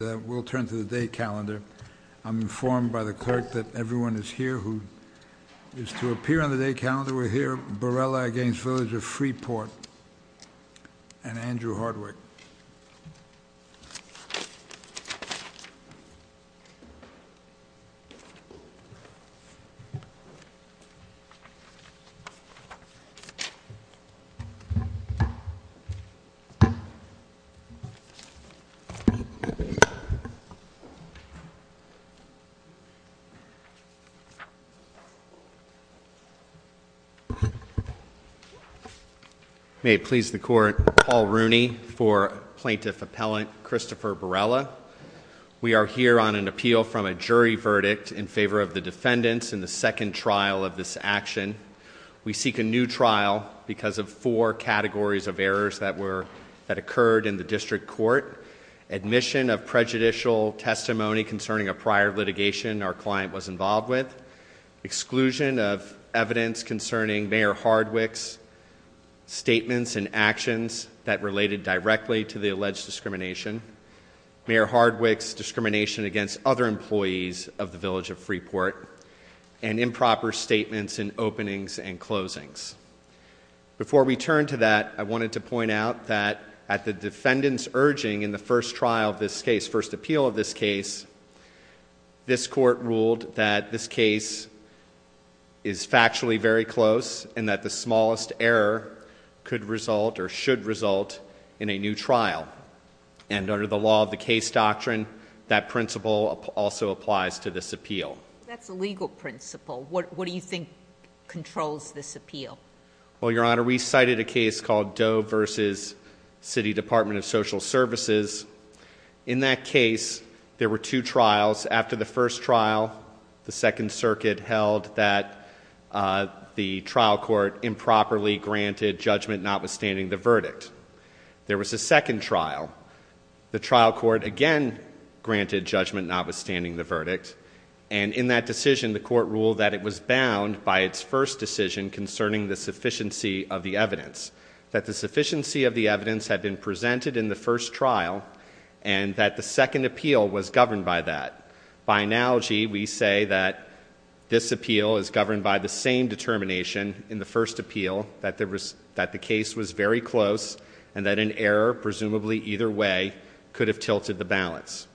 We'll turn to the day calendar. I'm informed by the clerk that everyone is here who is to appear on the day calendar. We're here. Barrella v. Village of Freeport and Andrew Hardwick. May it please the court, Paul Rooney for Plaintiff Appellant Christopher Barrella. We are here on an appeal from a jury verdict in favor of the defendants in the second trial of this action. We seek a new trial because of four categories of errors that occurred in the district court. Admission of prejudicial testimony concerning a prior litigation our client was involved with. Exclusion of evidence concerning Mayor Hardwick's statements and actions that related directly to the alleged discrimination. Mayor Hardwick's discrimination against other employees of the Village of Freeport. And improper statements in openings and closings. Before we turn to that, I wanted to point out that at the defendant's urging in the first trial of this case, first appeal of this case, this court ruled that this case is factually very close and that the smallest error could result or should result in a new trial. And under the law of the case doctrine, that principle also applies to this appeal. That's a legal principle. What do you think controls this appeal? Well, Your Honor, we cited a case called Doe versus City Department of Social Services. In that case, there were two trials. After the first trial, the Second Circuit held that the trial court improperly granted judgment notwithstanding the verdict. There was a second trial. And in that decision, the court ruled that it was bound by its first decision concerning the sufficiency of the evidence. That the sufficiency of the evidence had been presented in the first trial and that the second appeal was governed by that. By analogy, we say that this appeal is governed by the same determination in the first appeal, that the case was very close and that an error, presumably either way, could have tilted the balance.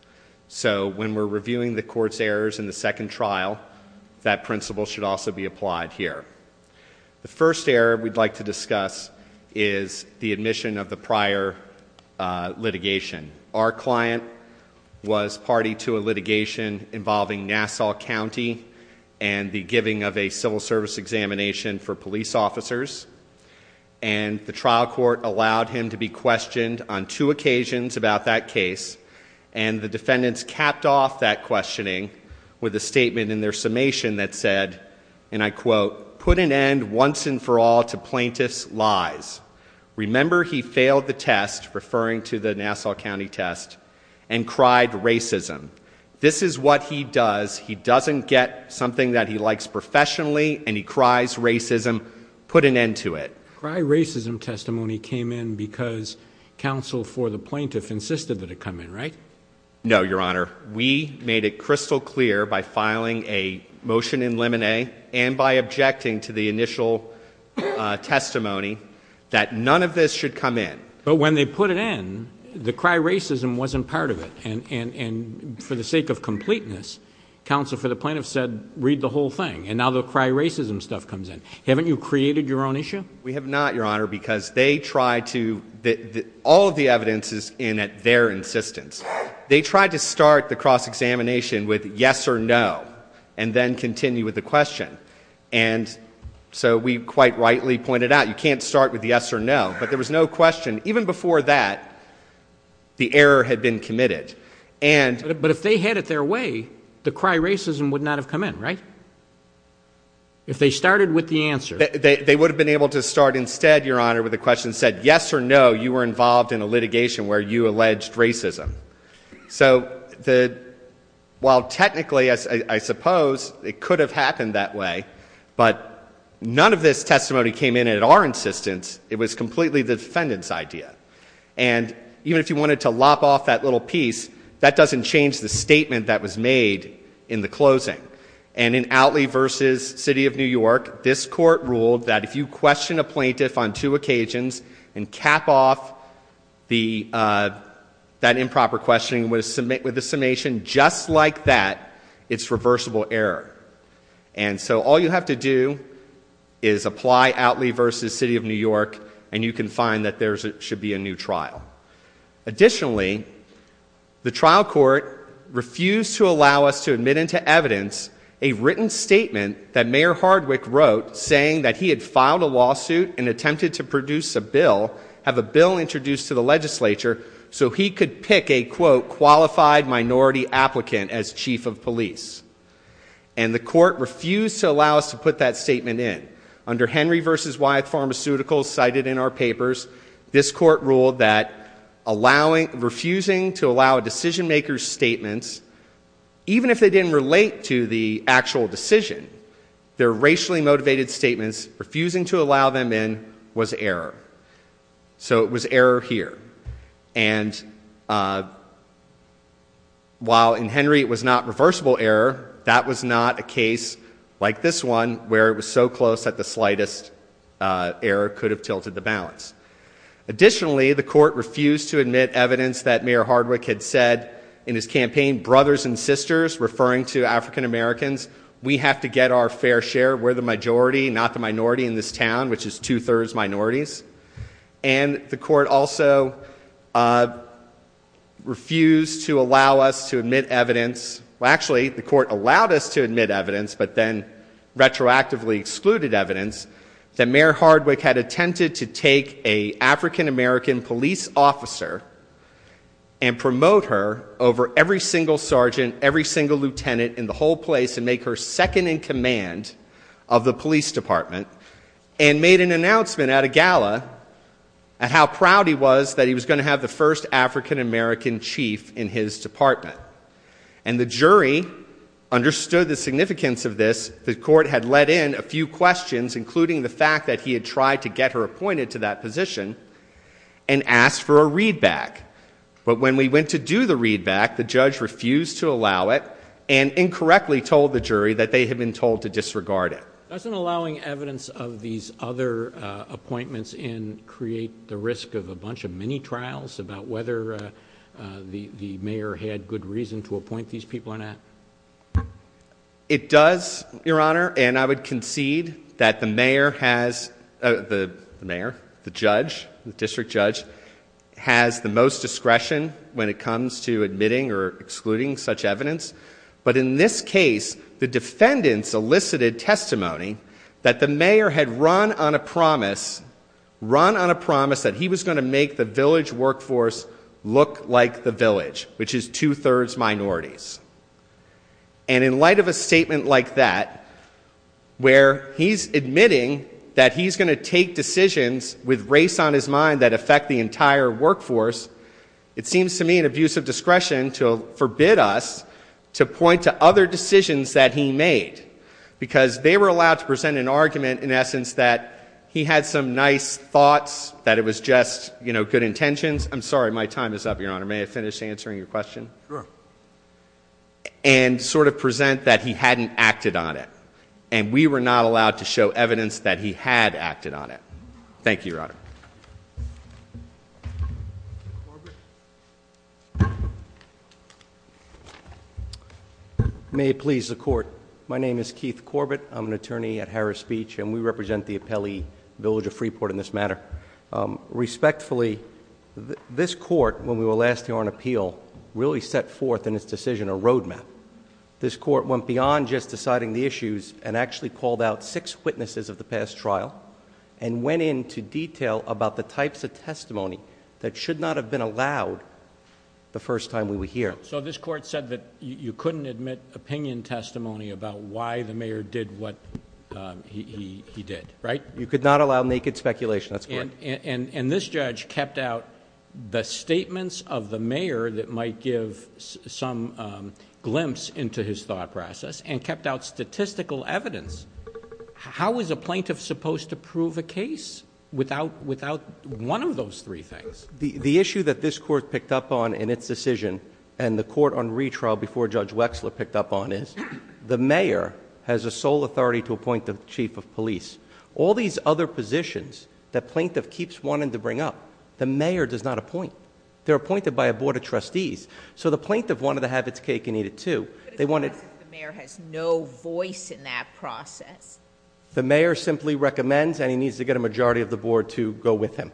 So when we're reviewing the court's errors in the second trial, that principle should also be applied here. The first error we'd like to discuss is the admission of the prior litigation. Our client was party to a litigation involving Nassau County and the giving of a civil service examination for police officers. And the trial court allowed him to be questioned on two occasions about that case. And the defendants capped off that questioning with a statement in their summation that said, and I quote, put an end once and for all to plaintiff's lies. Remember he failed the test, referring to the Nassau County test, and cried racism. This is what he does. He doesn't get something that he likes professionally and he cries racism. Put an end to it. Cry racism testimony came in because counsel for the plaintiff insisted that it come in, right? No, Your Honor. We made it crystal clear by filing a motion in limine and by objecting to the initial testimony that none of this should come in. But when they put it in, the cry racism wasn't part of it. And for the sake of completeness, counsel for the plaintiff said, read the whole thing. And now the cry racism stuff comes in. Haven't you created your own issue? We have not, Your Honor, because they tried to, all of the evidence is in at their insistence. They tried to start the cross-examination with yes or no and then continue with the question. And so we quite rightly pointed out you can't start with yes or no. But there was no question. Even before that, the error had been committed. But if they had it their way, the cry racism would not have come in, right? If they started with the answer. They would have been able to start instead, Your Honor, with a question that said yes or no, you were involved in a litigation where you alleged racism. So while technically, I suppose, it could have happened that way, but none of this testimony came in at our insistence. It was completely the defendant's idea. And even if you wanted to lop off that little piece, that doesn't change the statement that was made in the closing. And in Outley v. City of New York, this court ruled that if you question a plaintiff on two occasions and cap off that improper questioning with a summation just like that, it's reversible error. And so all you have to do is apply Outley v. City of New York and you can find that there should be a new trial. Additionally, the trial court refused to allow us to admit into evidence a written statement that Mayor Hardwick wrote saying that he had filed a lawsuit and attempted to produce a bill, have a bill introduced to the legislature, so he could pick a, quote, qualified minority applicant as chief of police. And the court refused to allow us to put that statement in. Under Henry v. Wyeth Pharmaceuticals, cited in our papers, this court ruled that refusing to allow a decision maker's statements, even if they didn't relate to the actual decision, their racially motivated statements, refusing to allow them in was error. So it was error here. And while in Henry it was not reversible error, that was not a case like this one, where it was so close that the slightest error could have tilted the balance. Additionally, the court refused to admit evidence that Mayor Hardwick had said in his campaign, brothers and sisters, referring to African Americans, we have to get our fair share, we're the majority, not the minority in this town, which is two-thirds minorities. And the court also refused to allow us to admit evidence, well, actually, the court allowed us to admit evidence, but then retroactively excluded evidence that Mayor Hardwick had attempted to take an African American police officer and promote her over every single sergeant, every single lieutenant in the whole place and make her second in command of the police department and made an announcement at a gala at how proud he was that he was going to have the first African American chief in his department. And the jury understood the significance of this. The court had let in a few questions, including the fact that he had tried to get her appointed to that position and asked for a readback. But when we went to do the readback, the judge refused to allow it and incorrectly told the jury that they had been told to disregard it. Doesn't allowing evidence of these other appointments in create the risk of a bunch of mini-trials about whether the mayor had good reason to appoint these people or not? It does, Your Honor, and I would concede that the mayor has, the mayor, the judge, the district judge, has the most discretion when it comes to admitting or excluding such evidence. But in this case, the defendants elicited testimony that the mayor had run on a promise, run on a promise that he was going to make the village workforce look like the village, which is two-thirds minorities. And in light of a statement like that, where he's admitting that he's going to take decisions with race on his mind that affect the entire workforce, it seems to me an abuse of discretion to forbid us to point to other decisions that he made, because they were allowed to present an argument, in essence, that he had some nice thoughts, that it was just, you know, good intentions. I'm sorry, my time is up, Your Honor. May I finish answering your question? Sure. And sort of present that he hadn't acted on it, and we were not allowed to show evidence that he had acted on it. Thank you, Your Honor. May it please the Court. My name is Keith Corbett. I'm an attorney at Harris Beach, and we represent the appellee village of Freeport in this matter. Respectfully, this court, when we were last here on appeal, really set forth in its decision a roadmap. This court went beyond just deciding the issues and actually called out six witnesses of the past trial and went into detail about the types of testimony that should not have been allowed the first time we were here. So this court said that you couldn't admit opinion testimony about why the mayor did what he did, right? You could not allow naked speculation. That's correct. And this judge kept out the statements of the mayor that might give some glimpse into his thought process and kept out statistical evidence. How is a plaintiff supposed to prove a case without one of those three things? The issue that this court picked up on in its decision, and the court on retrial before Judge Wexler picked up on, is the mayor has a sole authority to appoint the chief of police. All these other positions that plaintiff keeps wanting to bring up, the mayor does not appoint. They're appointed by a board of trustees. So the plaintiff wanted to have its cake and eat it, too. The mayor has no voice in that process. The mayor simply recommends, and he needs to get a majority of the board to go with him.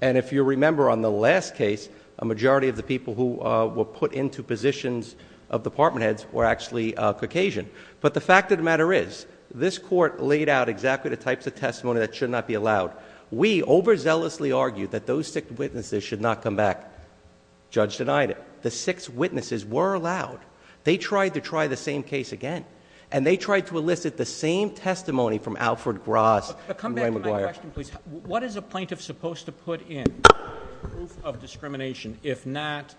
And if you remember on the last case, a majority of the people who were put into positions of department heads were actually Caucasian. But the fact of the matter is, this court laid out exactly the types of testimony that should not be allowed. We overzealously argued that those six witnesses should not come back. The judge denied it. The six witnesses were allowed. They tried to try the same case again. And they tried to elicit the same testimony from Alfred Gross and Dwayne McGuire. What is a plaintiff supposed to put in proof of discrimination if not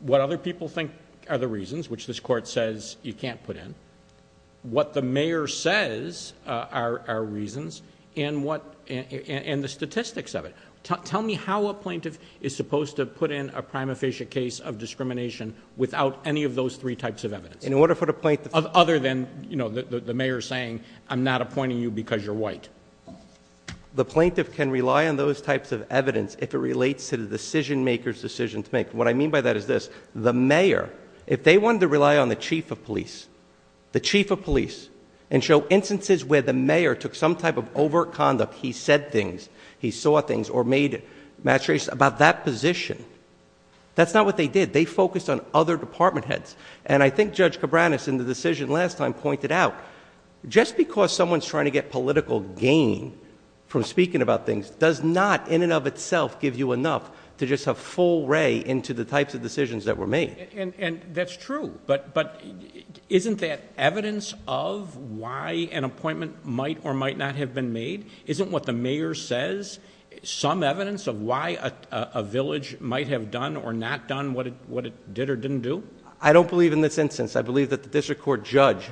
what other people think are the reasons, which this court says you can't put in, what the mayor says are reasons, and the statistics of it? Tell me how a plaintiff is supposed to put in a prima facie case of discrimination without any of those three types of evidence. Other than the mayor saying, I'm not appointing you because you're white. The plaintiff can rely on those types of evidence if it relates to the decision maker's decision to make. What I mean by that is this, the mayor, if they wanted to rely on the chief of police, the chief of police, and show instances where the mayor took some type of overt conduct, he said things, he saw things, or made maturation about that position, that's not what they did. They focused on other department heads. And I think Judge Cabranes in the decision last time pointed out, just because someone's trying to get political gain from speaking about things, does not in and of itself give you enough to just have full ray into the types of decisions that were made. And that's true, but isn't that evidence of why an appointment might or might not have been made? Isn't what the mayor says some evidence of why a village might have done or not done what it did or didn't do? I don't believe in this instance. I believe that the district court judge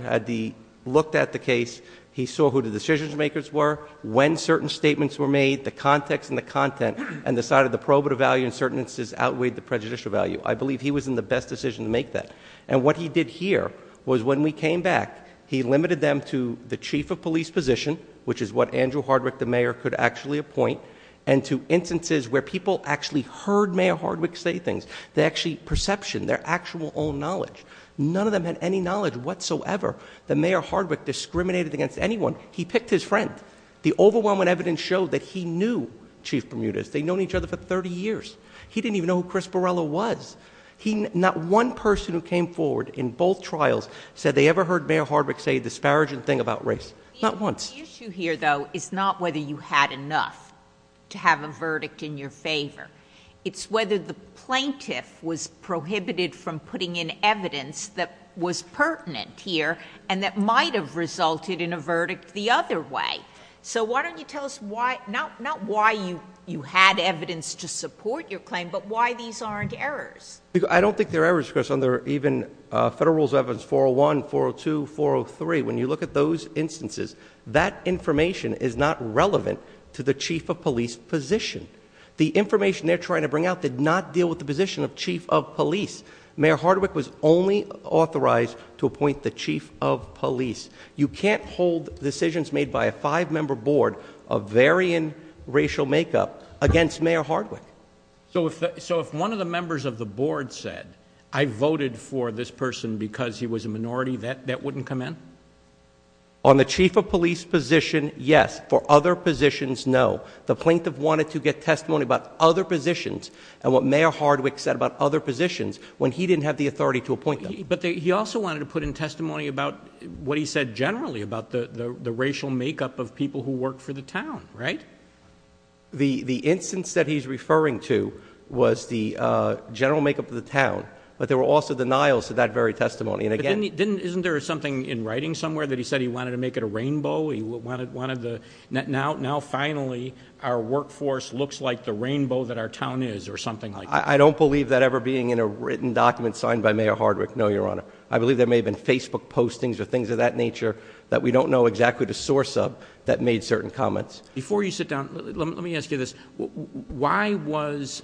looked at the case, he saw who the decision makers were, when certain statements were made, the context and the content, and decided the probative value and certain instances outweighed the prejudicial value. I believe he was in the best decision to make that. And what he did here was when we came back, he limited them to the chief of police position, which is what Andrew Hardwick, the mayor, could actually appoint, and to instances where people actually heard Mayor Hardwick say things. They actually perception, their actual own knowledge. None of them had any knowledge whatsoever that Mayor Hardwick discriminated against anyone. He picked his friend. The overwhelming evidence showed that he knew Chief Bermudez. They'd known each other for 30 years. He didn't even know who Chris Borrello was. Not one person who came forward in both trials said they ever heard Mayor Hardwick say a disparaging thing about race. Not once. The issue here, though, is not whether you had enough to have a verdict in your favor. It's whether the plaintiff was prohibited from putting in evidence that was pertinent here, and that might have resulted in a verdict the other way. So why don't you tell us not why you had evidence to support your claim, but why these aren't errors. I don't think they're errors, Chris. Under even Federal Rules of Evidence 401, 402, 403, when you look at those instances, that information is not relevant to the chief of police position. The information they're trying to bring out did not deal with the position of chief of police. Mayor Hardwick was only authorized to appoint the chief of police. You can't hold decisions made by a five-member board of varying racial makeup against Mayor Hardwick. So if one of the members of the board said, I voted for this person because he was a minority, that wouldn't come in? On the chief of police position, yes. For other positions, no. The plaintiff wanted to get testimony about other positions and what Mayor Hardwick said about other positions when he didn't have the authority to appoint them. But he also wanted to put in testimony about what he said generally, about the racial makeup of people who worked for the town, right? The instance that he's referring to was the general makeup of the town, but there were also denials to that very testimony. Isn't there something in writing somewhere that he said he wanted to make it a rainbow? Now, finally, our workforce looks like the rainbow that our town is or something like that? I don't believe that ever being in a written document signed by Mayor Hardwick, no, Your Honor. I believe there may have been Facebook postings or things of that nature that we don't know exactly the source of that made certain comments. Before you sit down, let me ask you this. Why was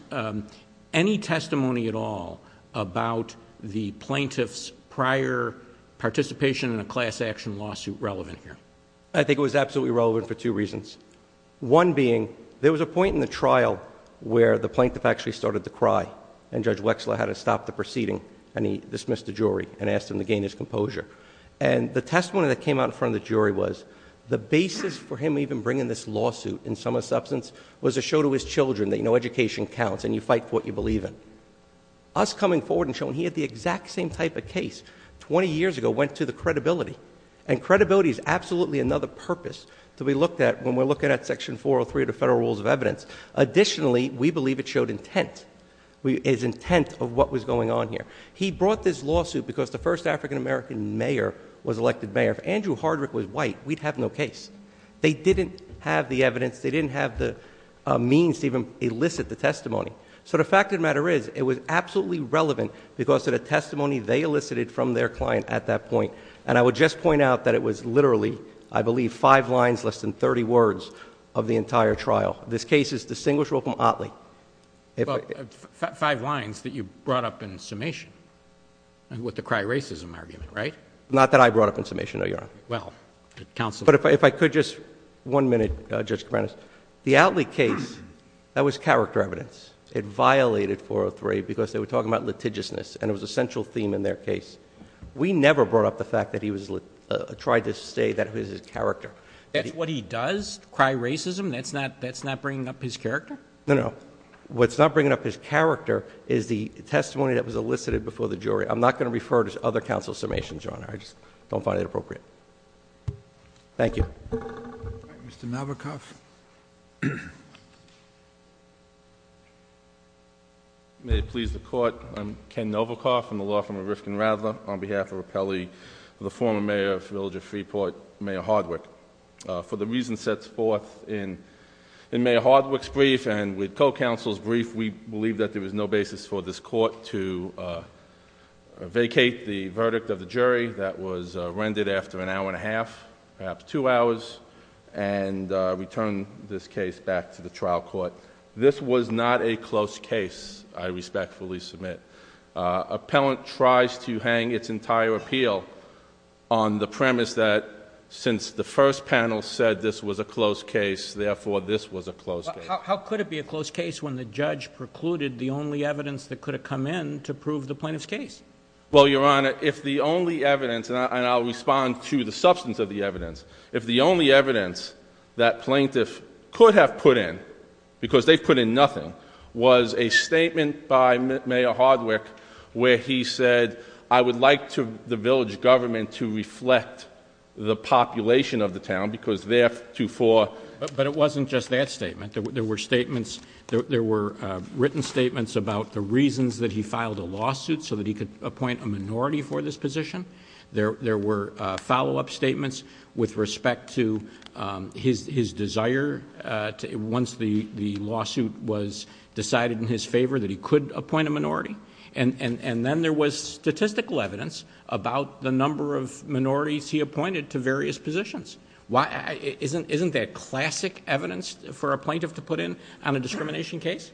any testimony at all about the plaintiff's prior participation in a class action lawsuit relevant here? I think it was absolutely relevant for two reasons. One being, there was a point in the trial where the plaintiff actually started to cry, and Judge Wexler had to stop the proceeding, and he dismissed the jury and asked him to gain his composure. And the testimony that came out in front of the jury was, the basis for him even bringing this lawsuit in some substance was to show to his children that education counts and you fight for what you believe in. Us coming forward and showing he had the exact same type of case 20 years ago went to the credibility, and credibility is absolutely another purpose to be looked at when we're looking at Section 403 of the Federal Rules of Evidence. Additionally, we believe it showed intent, his intent of what was going on here. He brought this lawsuit because the first African-American mayor was elected mayor. If Andrew Hardwick was white, we'd have no case. They didn't have the evidence. They didn't have the means to even elicit the testimony. So the fact of the matter is, it was absolutely relevant because of the testimony they elicited from their client at that point. And I would just point out that it was literally, I believe, five lines, less than 30 words of the entire trial. This case is distinguishable from Otley. Five lines that you brought up in summation with the cry racism argument, right? Not that I brought up in summation, no, Your Honor. Well, counsel... But if I could just... one minute, Judge Kavanagh. The Otley case, that was character evidence. It violated 403 because they were talking about litigiousness, and it was a central theme in their case. We never brought up the fact that he tried to say that it was his character. That's what he does? Cry racism? That's not bringing up his character? No, no. What's not bringing up his character is the testimony that was elicited before the jury. I'm not going to refer to other counsel's summations, Your Honor. I just don't find it appropriate. Thank you. Mr. Novikoff? May it please the Court. I'm Ken Novikoff. I'm a law firm at Rifkin & Radler. On behalf of Appelli, the former mayor of the Village of Freeport, Mayor Hardwick. For the reasons set forth in Mayor Hardwick's brief and with co-counsel's brief, we believe that there was no basis for this Court to vacate the verdict of the jury that was rendered after an hour and a half, perhaps two hours, and return this case back to the trial court. This was not a close case, I respectfully submit. Appellant tries to hang its entire appeal on the premise that since the first panel said this was a close case, therefore, this was a close case. How could it be a close case when the judge precluded the only evidence that could have come in to prove the plaintiff's case? Well, Your Honor, if the only evidence, and I'll respond to the substance of the evidence, if the only evidence that plaintiff could have put in, because they put in nothing, was a statement by Mayor Hardwick where he said, I would like the Village government to reflect the population of the town because theretofore... But it wasn't just that statement. There were written statements about the reasons that he filed a lawsuit so that he could appoint a minority for this position. There were follow-up statements with respect to his desire, once the lawsuit was decided in his favor, that he could appoint a minority. And then there was statistical evidence about the number of minorities he appointed to various positions. Isn't that classic evidence for a plaintiff to put in on a discrimination case?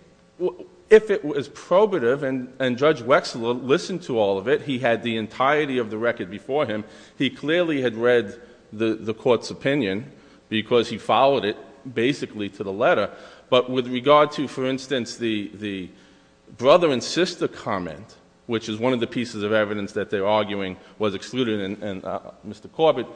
If it was probative and Judge Wexler listened to all of it, he had the entirety of the record before him, he clearly had read the court's opinion because he followed it basically to the letter. But with regard to, for instance, the brother and sister comment, which is one of the pieces of evidence that they're arguing was excluded, and Mr. Corbett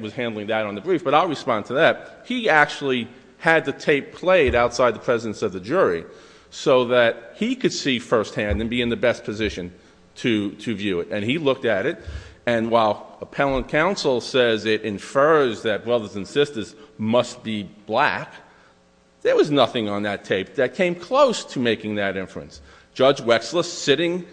was handling that on the brief, but I'll respond to that. He actually had the tape played outside the presence of the jury so that he could see firsthand and be in the best position to view it. And he looked at it, and while appellant counsel says it infers that brothers and sisters must be black, there was nothing on that tape that came close to making that inference. Judge Wexler, sitting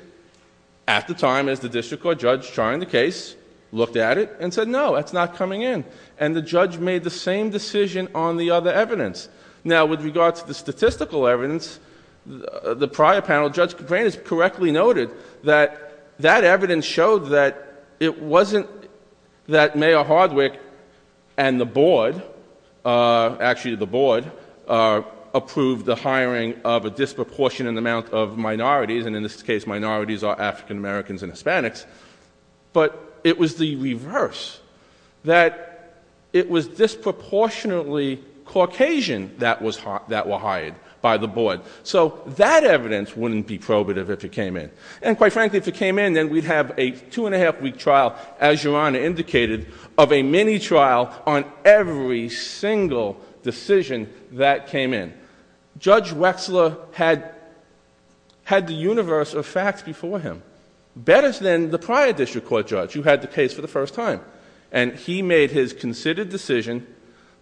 at the time as the district court judge trying the case, looked at it and said, no, that's not coming in. And the judge made the same decision on the other evidence. Now, with regard to the statistical evidence, the prior panel, Judge Crane has correctly noted that that evidence showed that it wasn't that Mayor Hardwick and the board, approved the hiring of a disproportionate amount of minorities, and in this case minorities are African-Americans and Hispanics, but it was the reverse, that it was disproportionately Caucasian that were hired by the board. So that evidence wouldn't be probative if it came in. And quite frankly, if it came in, then we'd have a two-and-a-half-week trial, as Your Honor indicated, of a mini-trial on every single decision that came in. Judge Wexler had the universe of facts before him, better than the prior district court judge who had the case for the first time. And he made his considered decision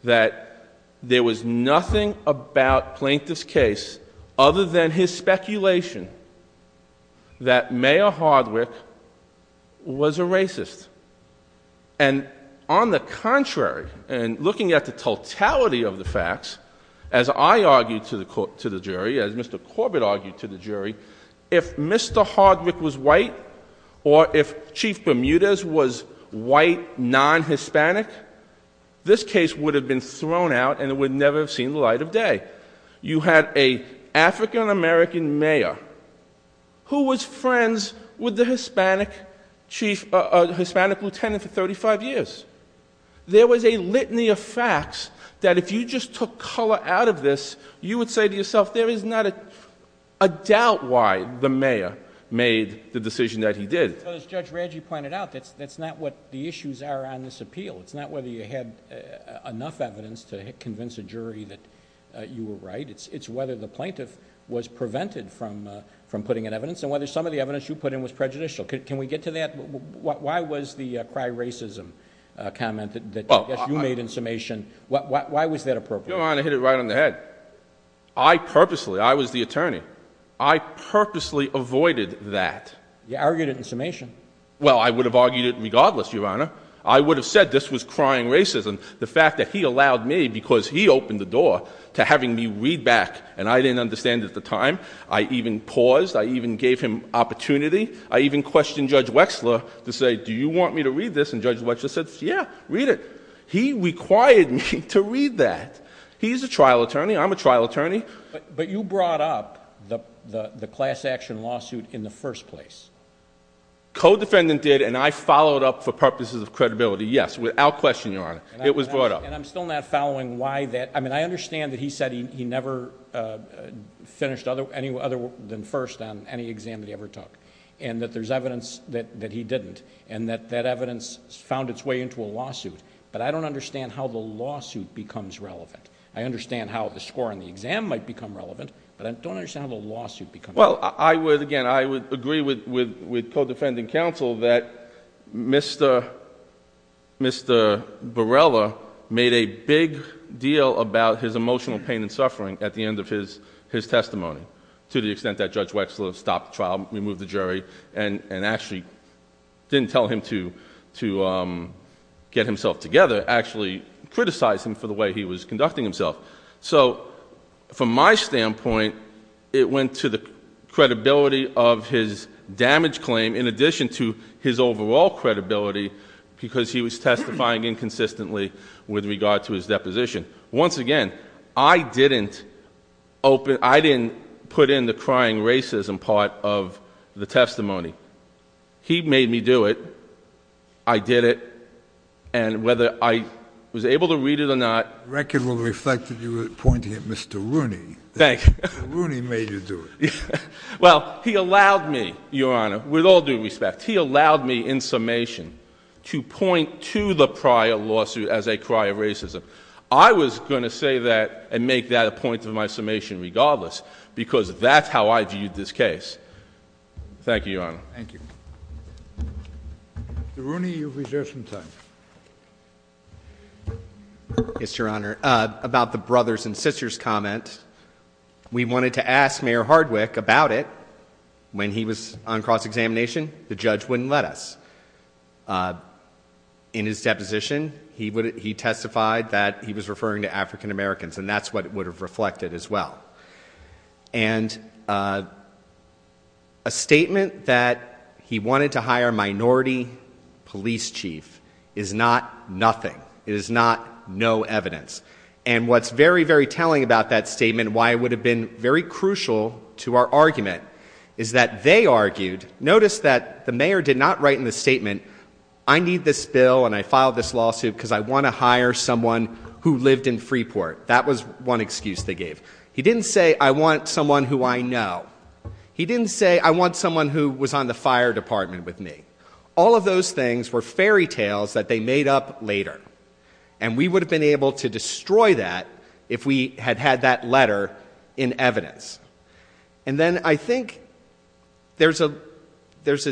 that there was nothing about Plaintiff's case other than his speculation that Mayor Hardwick was a racist. And on the contrary, and looking at the totality of the facts, as I argued to the jury, as Mr. Corbett argued to the jury, if Mr. Hardwick was white, or if Chief Bermudez was white, non-Hispanic, this case would have been thrown out, and it would never have seen the light of day. You had an African-American mayor who was friends with the Hispanic lieutenant for 35 years. There was a litany of facts that if you just took color out of this, you would say to yourself, there is not a doubt why the mayor made the decision that he did. But as Judge Radji pointed out, that's not what the issues are on this appeal. It's not whether you had enough evidence to convince a jury that you were right. It's whether the plaintiff was prevented from putting in evidence, and whether some of the evidence you put in was prejudicial. Can we get to that? Why was the cry racism comment that you made in summation, why was that appropriate? Your Honor, I hit it right on the head. I purposely, I was the attorney, I purposely avoided that. You argued it in summation. Well, I would have argued it regardless, Your Honor. I would have said this was crying racism. The fact that he allowed me because he opened the door to having me read back, and I didn't understand it at the time. I even paused. I even gave him opportunity. I even questioned Judge Wexler to say, do you want me to read this? And Judge Wexler said, yeah, read it. He required me to read that. He's a trial attorney. I'm a trial attorney. But you brought up the class action lawsuit in the first place. Co-defendant did, and I followed up for purposes of credibility. Yes, without question, Your Honor. It was brought up. And I'm still not following why that... I mean, I understand that he said he never finished any other than first on any exam that he ever took, and that there's evidence that he didn't, and that that evidence found its way into a lawsuit, but I don't understand how the lawsuit becomes relevant. I understand how the score on the exam might become relevant, but I don't understand how the lawsuit becomes relevant. Well, again, I would agree with co-defendant counsel that Mr. Barella made a big deal about his emotional pain and suffering at the end of his testimony, to the extent that Judge Wexler stopped the trial, removed the jury, and actually didn't tell him to get himself together, actually criticized him for the way he was conducting himself. So, from my standpoint, it went to the credibility of his damage claim, in addition to his overall credibility, because he was testifying inconsistently with regard to his deposition. Once again, I didn't open... I didn't put in the crying racism part of the testimony. He made me do it. I did it. And whether I was able to read it or not... That record will reflect that you were pointing at Mr. Rooney. Thank you. Rooney made you do it. Well, he allowed me, Your Honor, with all due respect, he allowed me in summation to point to the prior lawsuit as a cry of racism. I was going to say that and make that a point of my summation regardless, because that's how I viewed this case. Thank you, Your Honor. Thank you. Mr. Rooney, you've reserved some time. Yes, Your Honor. About the brothers and sisters comment, we wanted to ask Mayor Hardwick about it when he was on cross-examination. The judge wouldn't let us. In his deposition, he testified that he was referring to African Americans, and that's what it would have reflected as well. And a statement that he wanted to hire a minority police chief is not nothing. It is not no evidence. And what's very, very telling about that statement, why it would have been very crucial to our argument, is that they argued... Notice that the mayor did not write in the statement, I need this bill and I filed this lawsuit because I want to hire someone who lived in Freeport. That was one excuse they gave. He didn't say, I want someone who I know. He didn't say, I want someone who was on the fire department with me. All of those things were fairy tales that they made up later. And we would have been able to destroy that if we had had that letter in evidence. And then I think there's a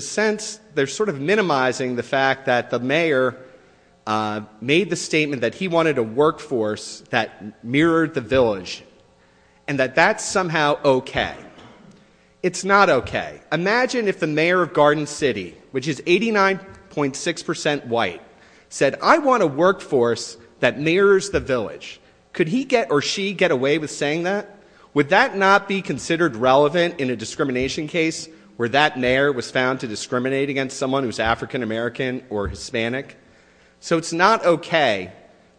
sense, they're sort of minimizing the fact that the mayor made the statement that he wanted a workforce that mirrored the village, and that that's somehow okay. It's not okay. Imagine if the mayor of Garden City, which is 89.6% white, said, I want a workforce that mirrors the village. Could he get or she get away with saying that? Would that not be considered relevant in a discrimination case where that mayor was found to discriminate against someone who's African American or Hispanic? So it's not okay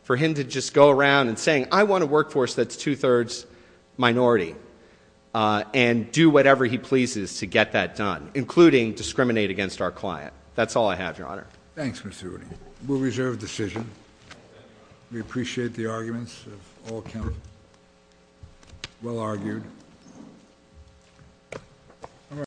for him to just go around and say, I want a workforce that's two-thirds minority, and do whatever he pleases to get that done, including discriminate against our client. That's all I have, Your Honor. Thanks, Mr. Woody. We'll reserve the decision. We appreciate the arguments of all counsel. Well argued.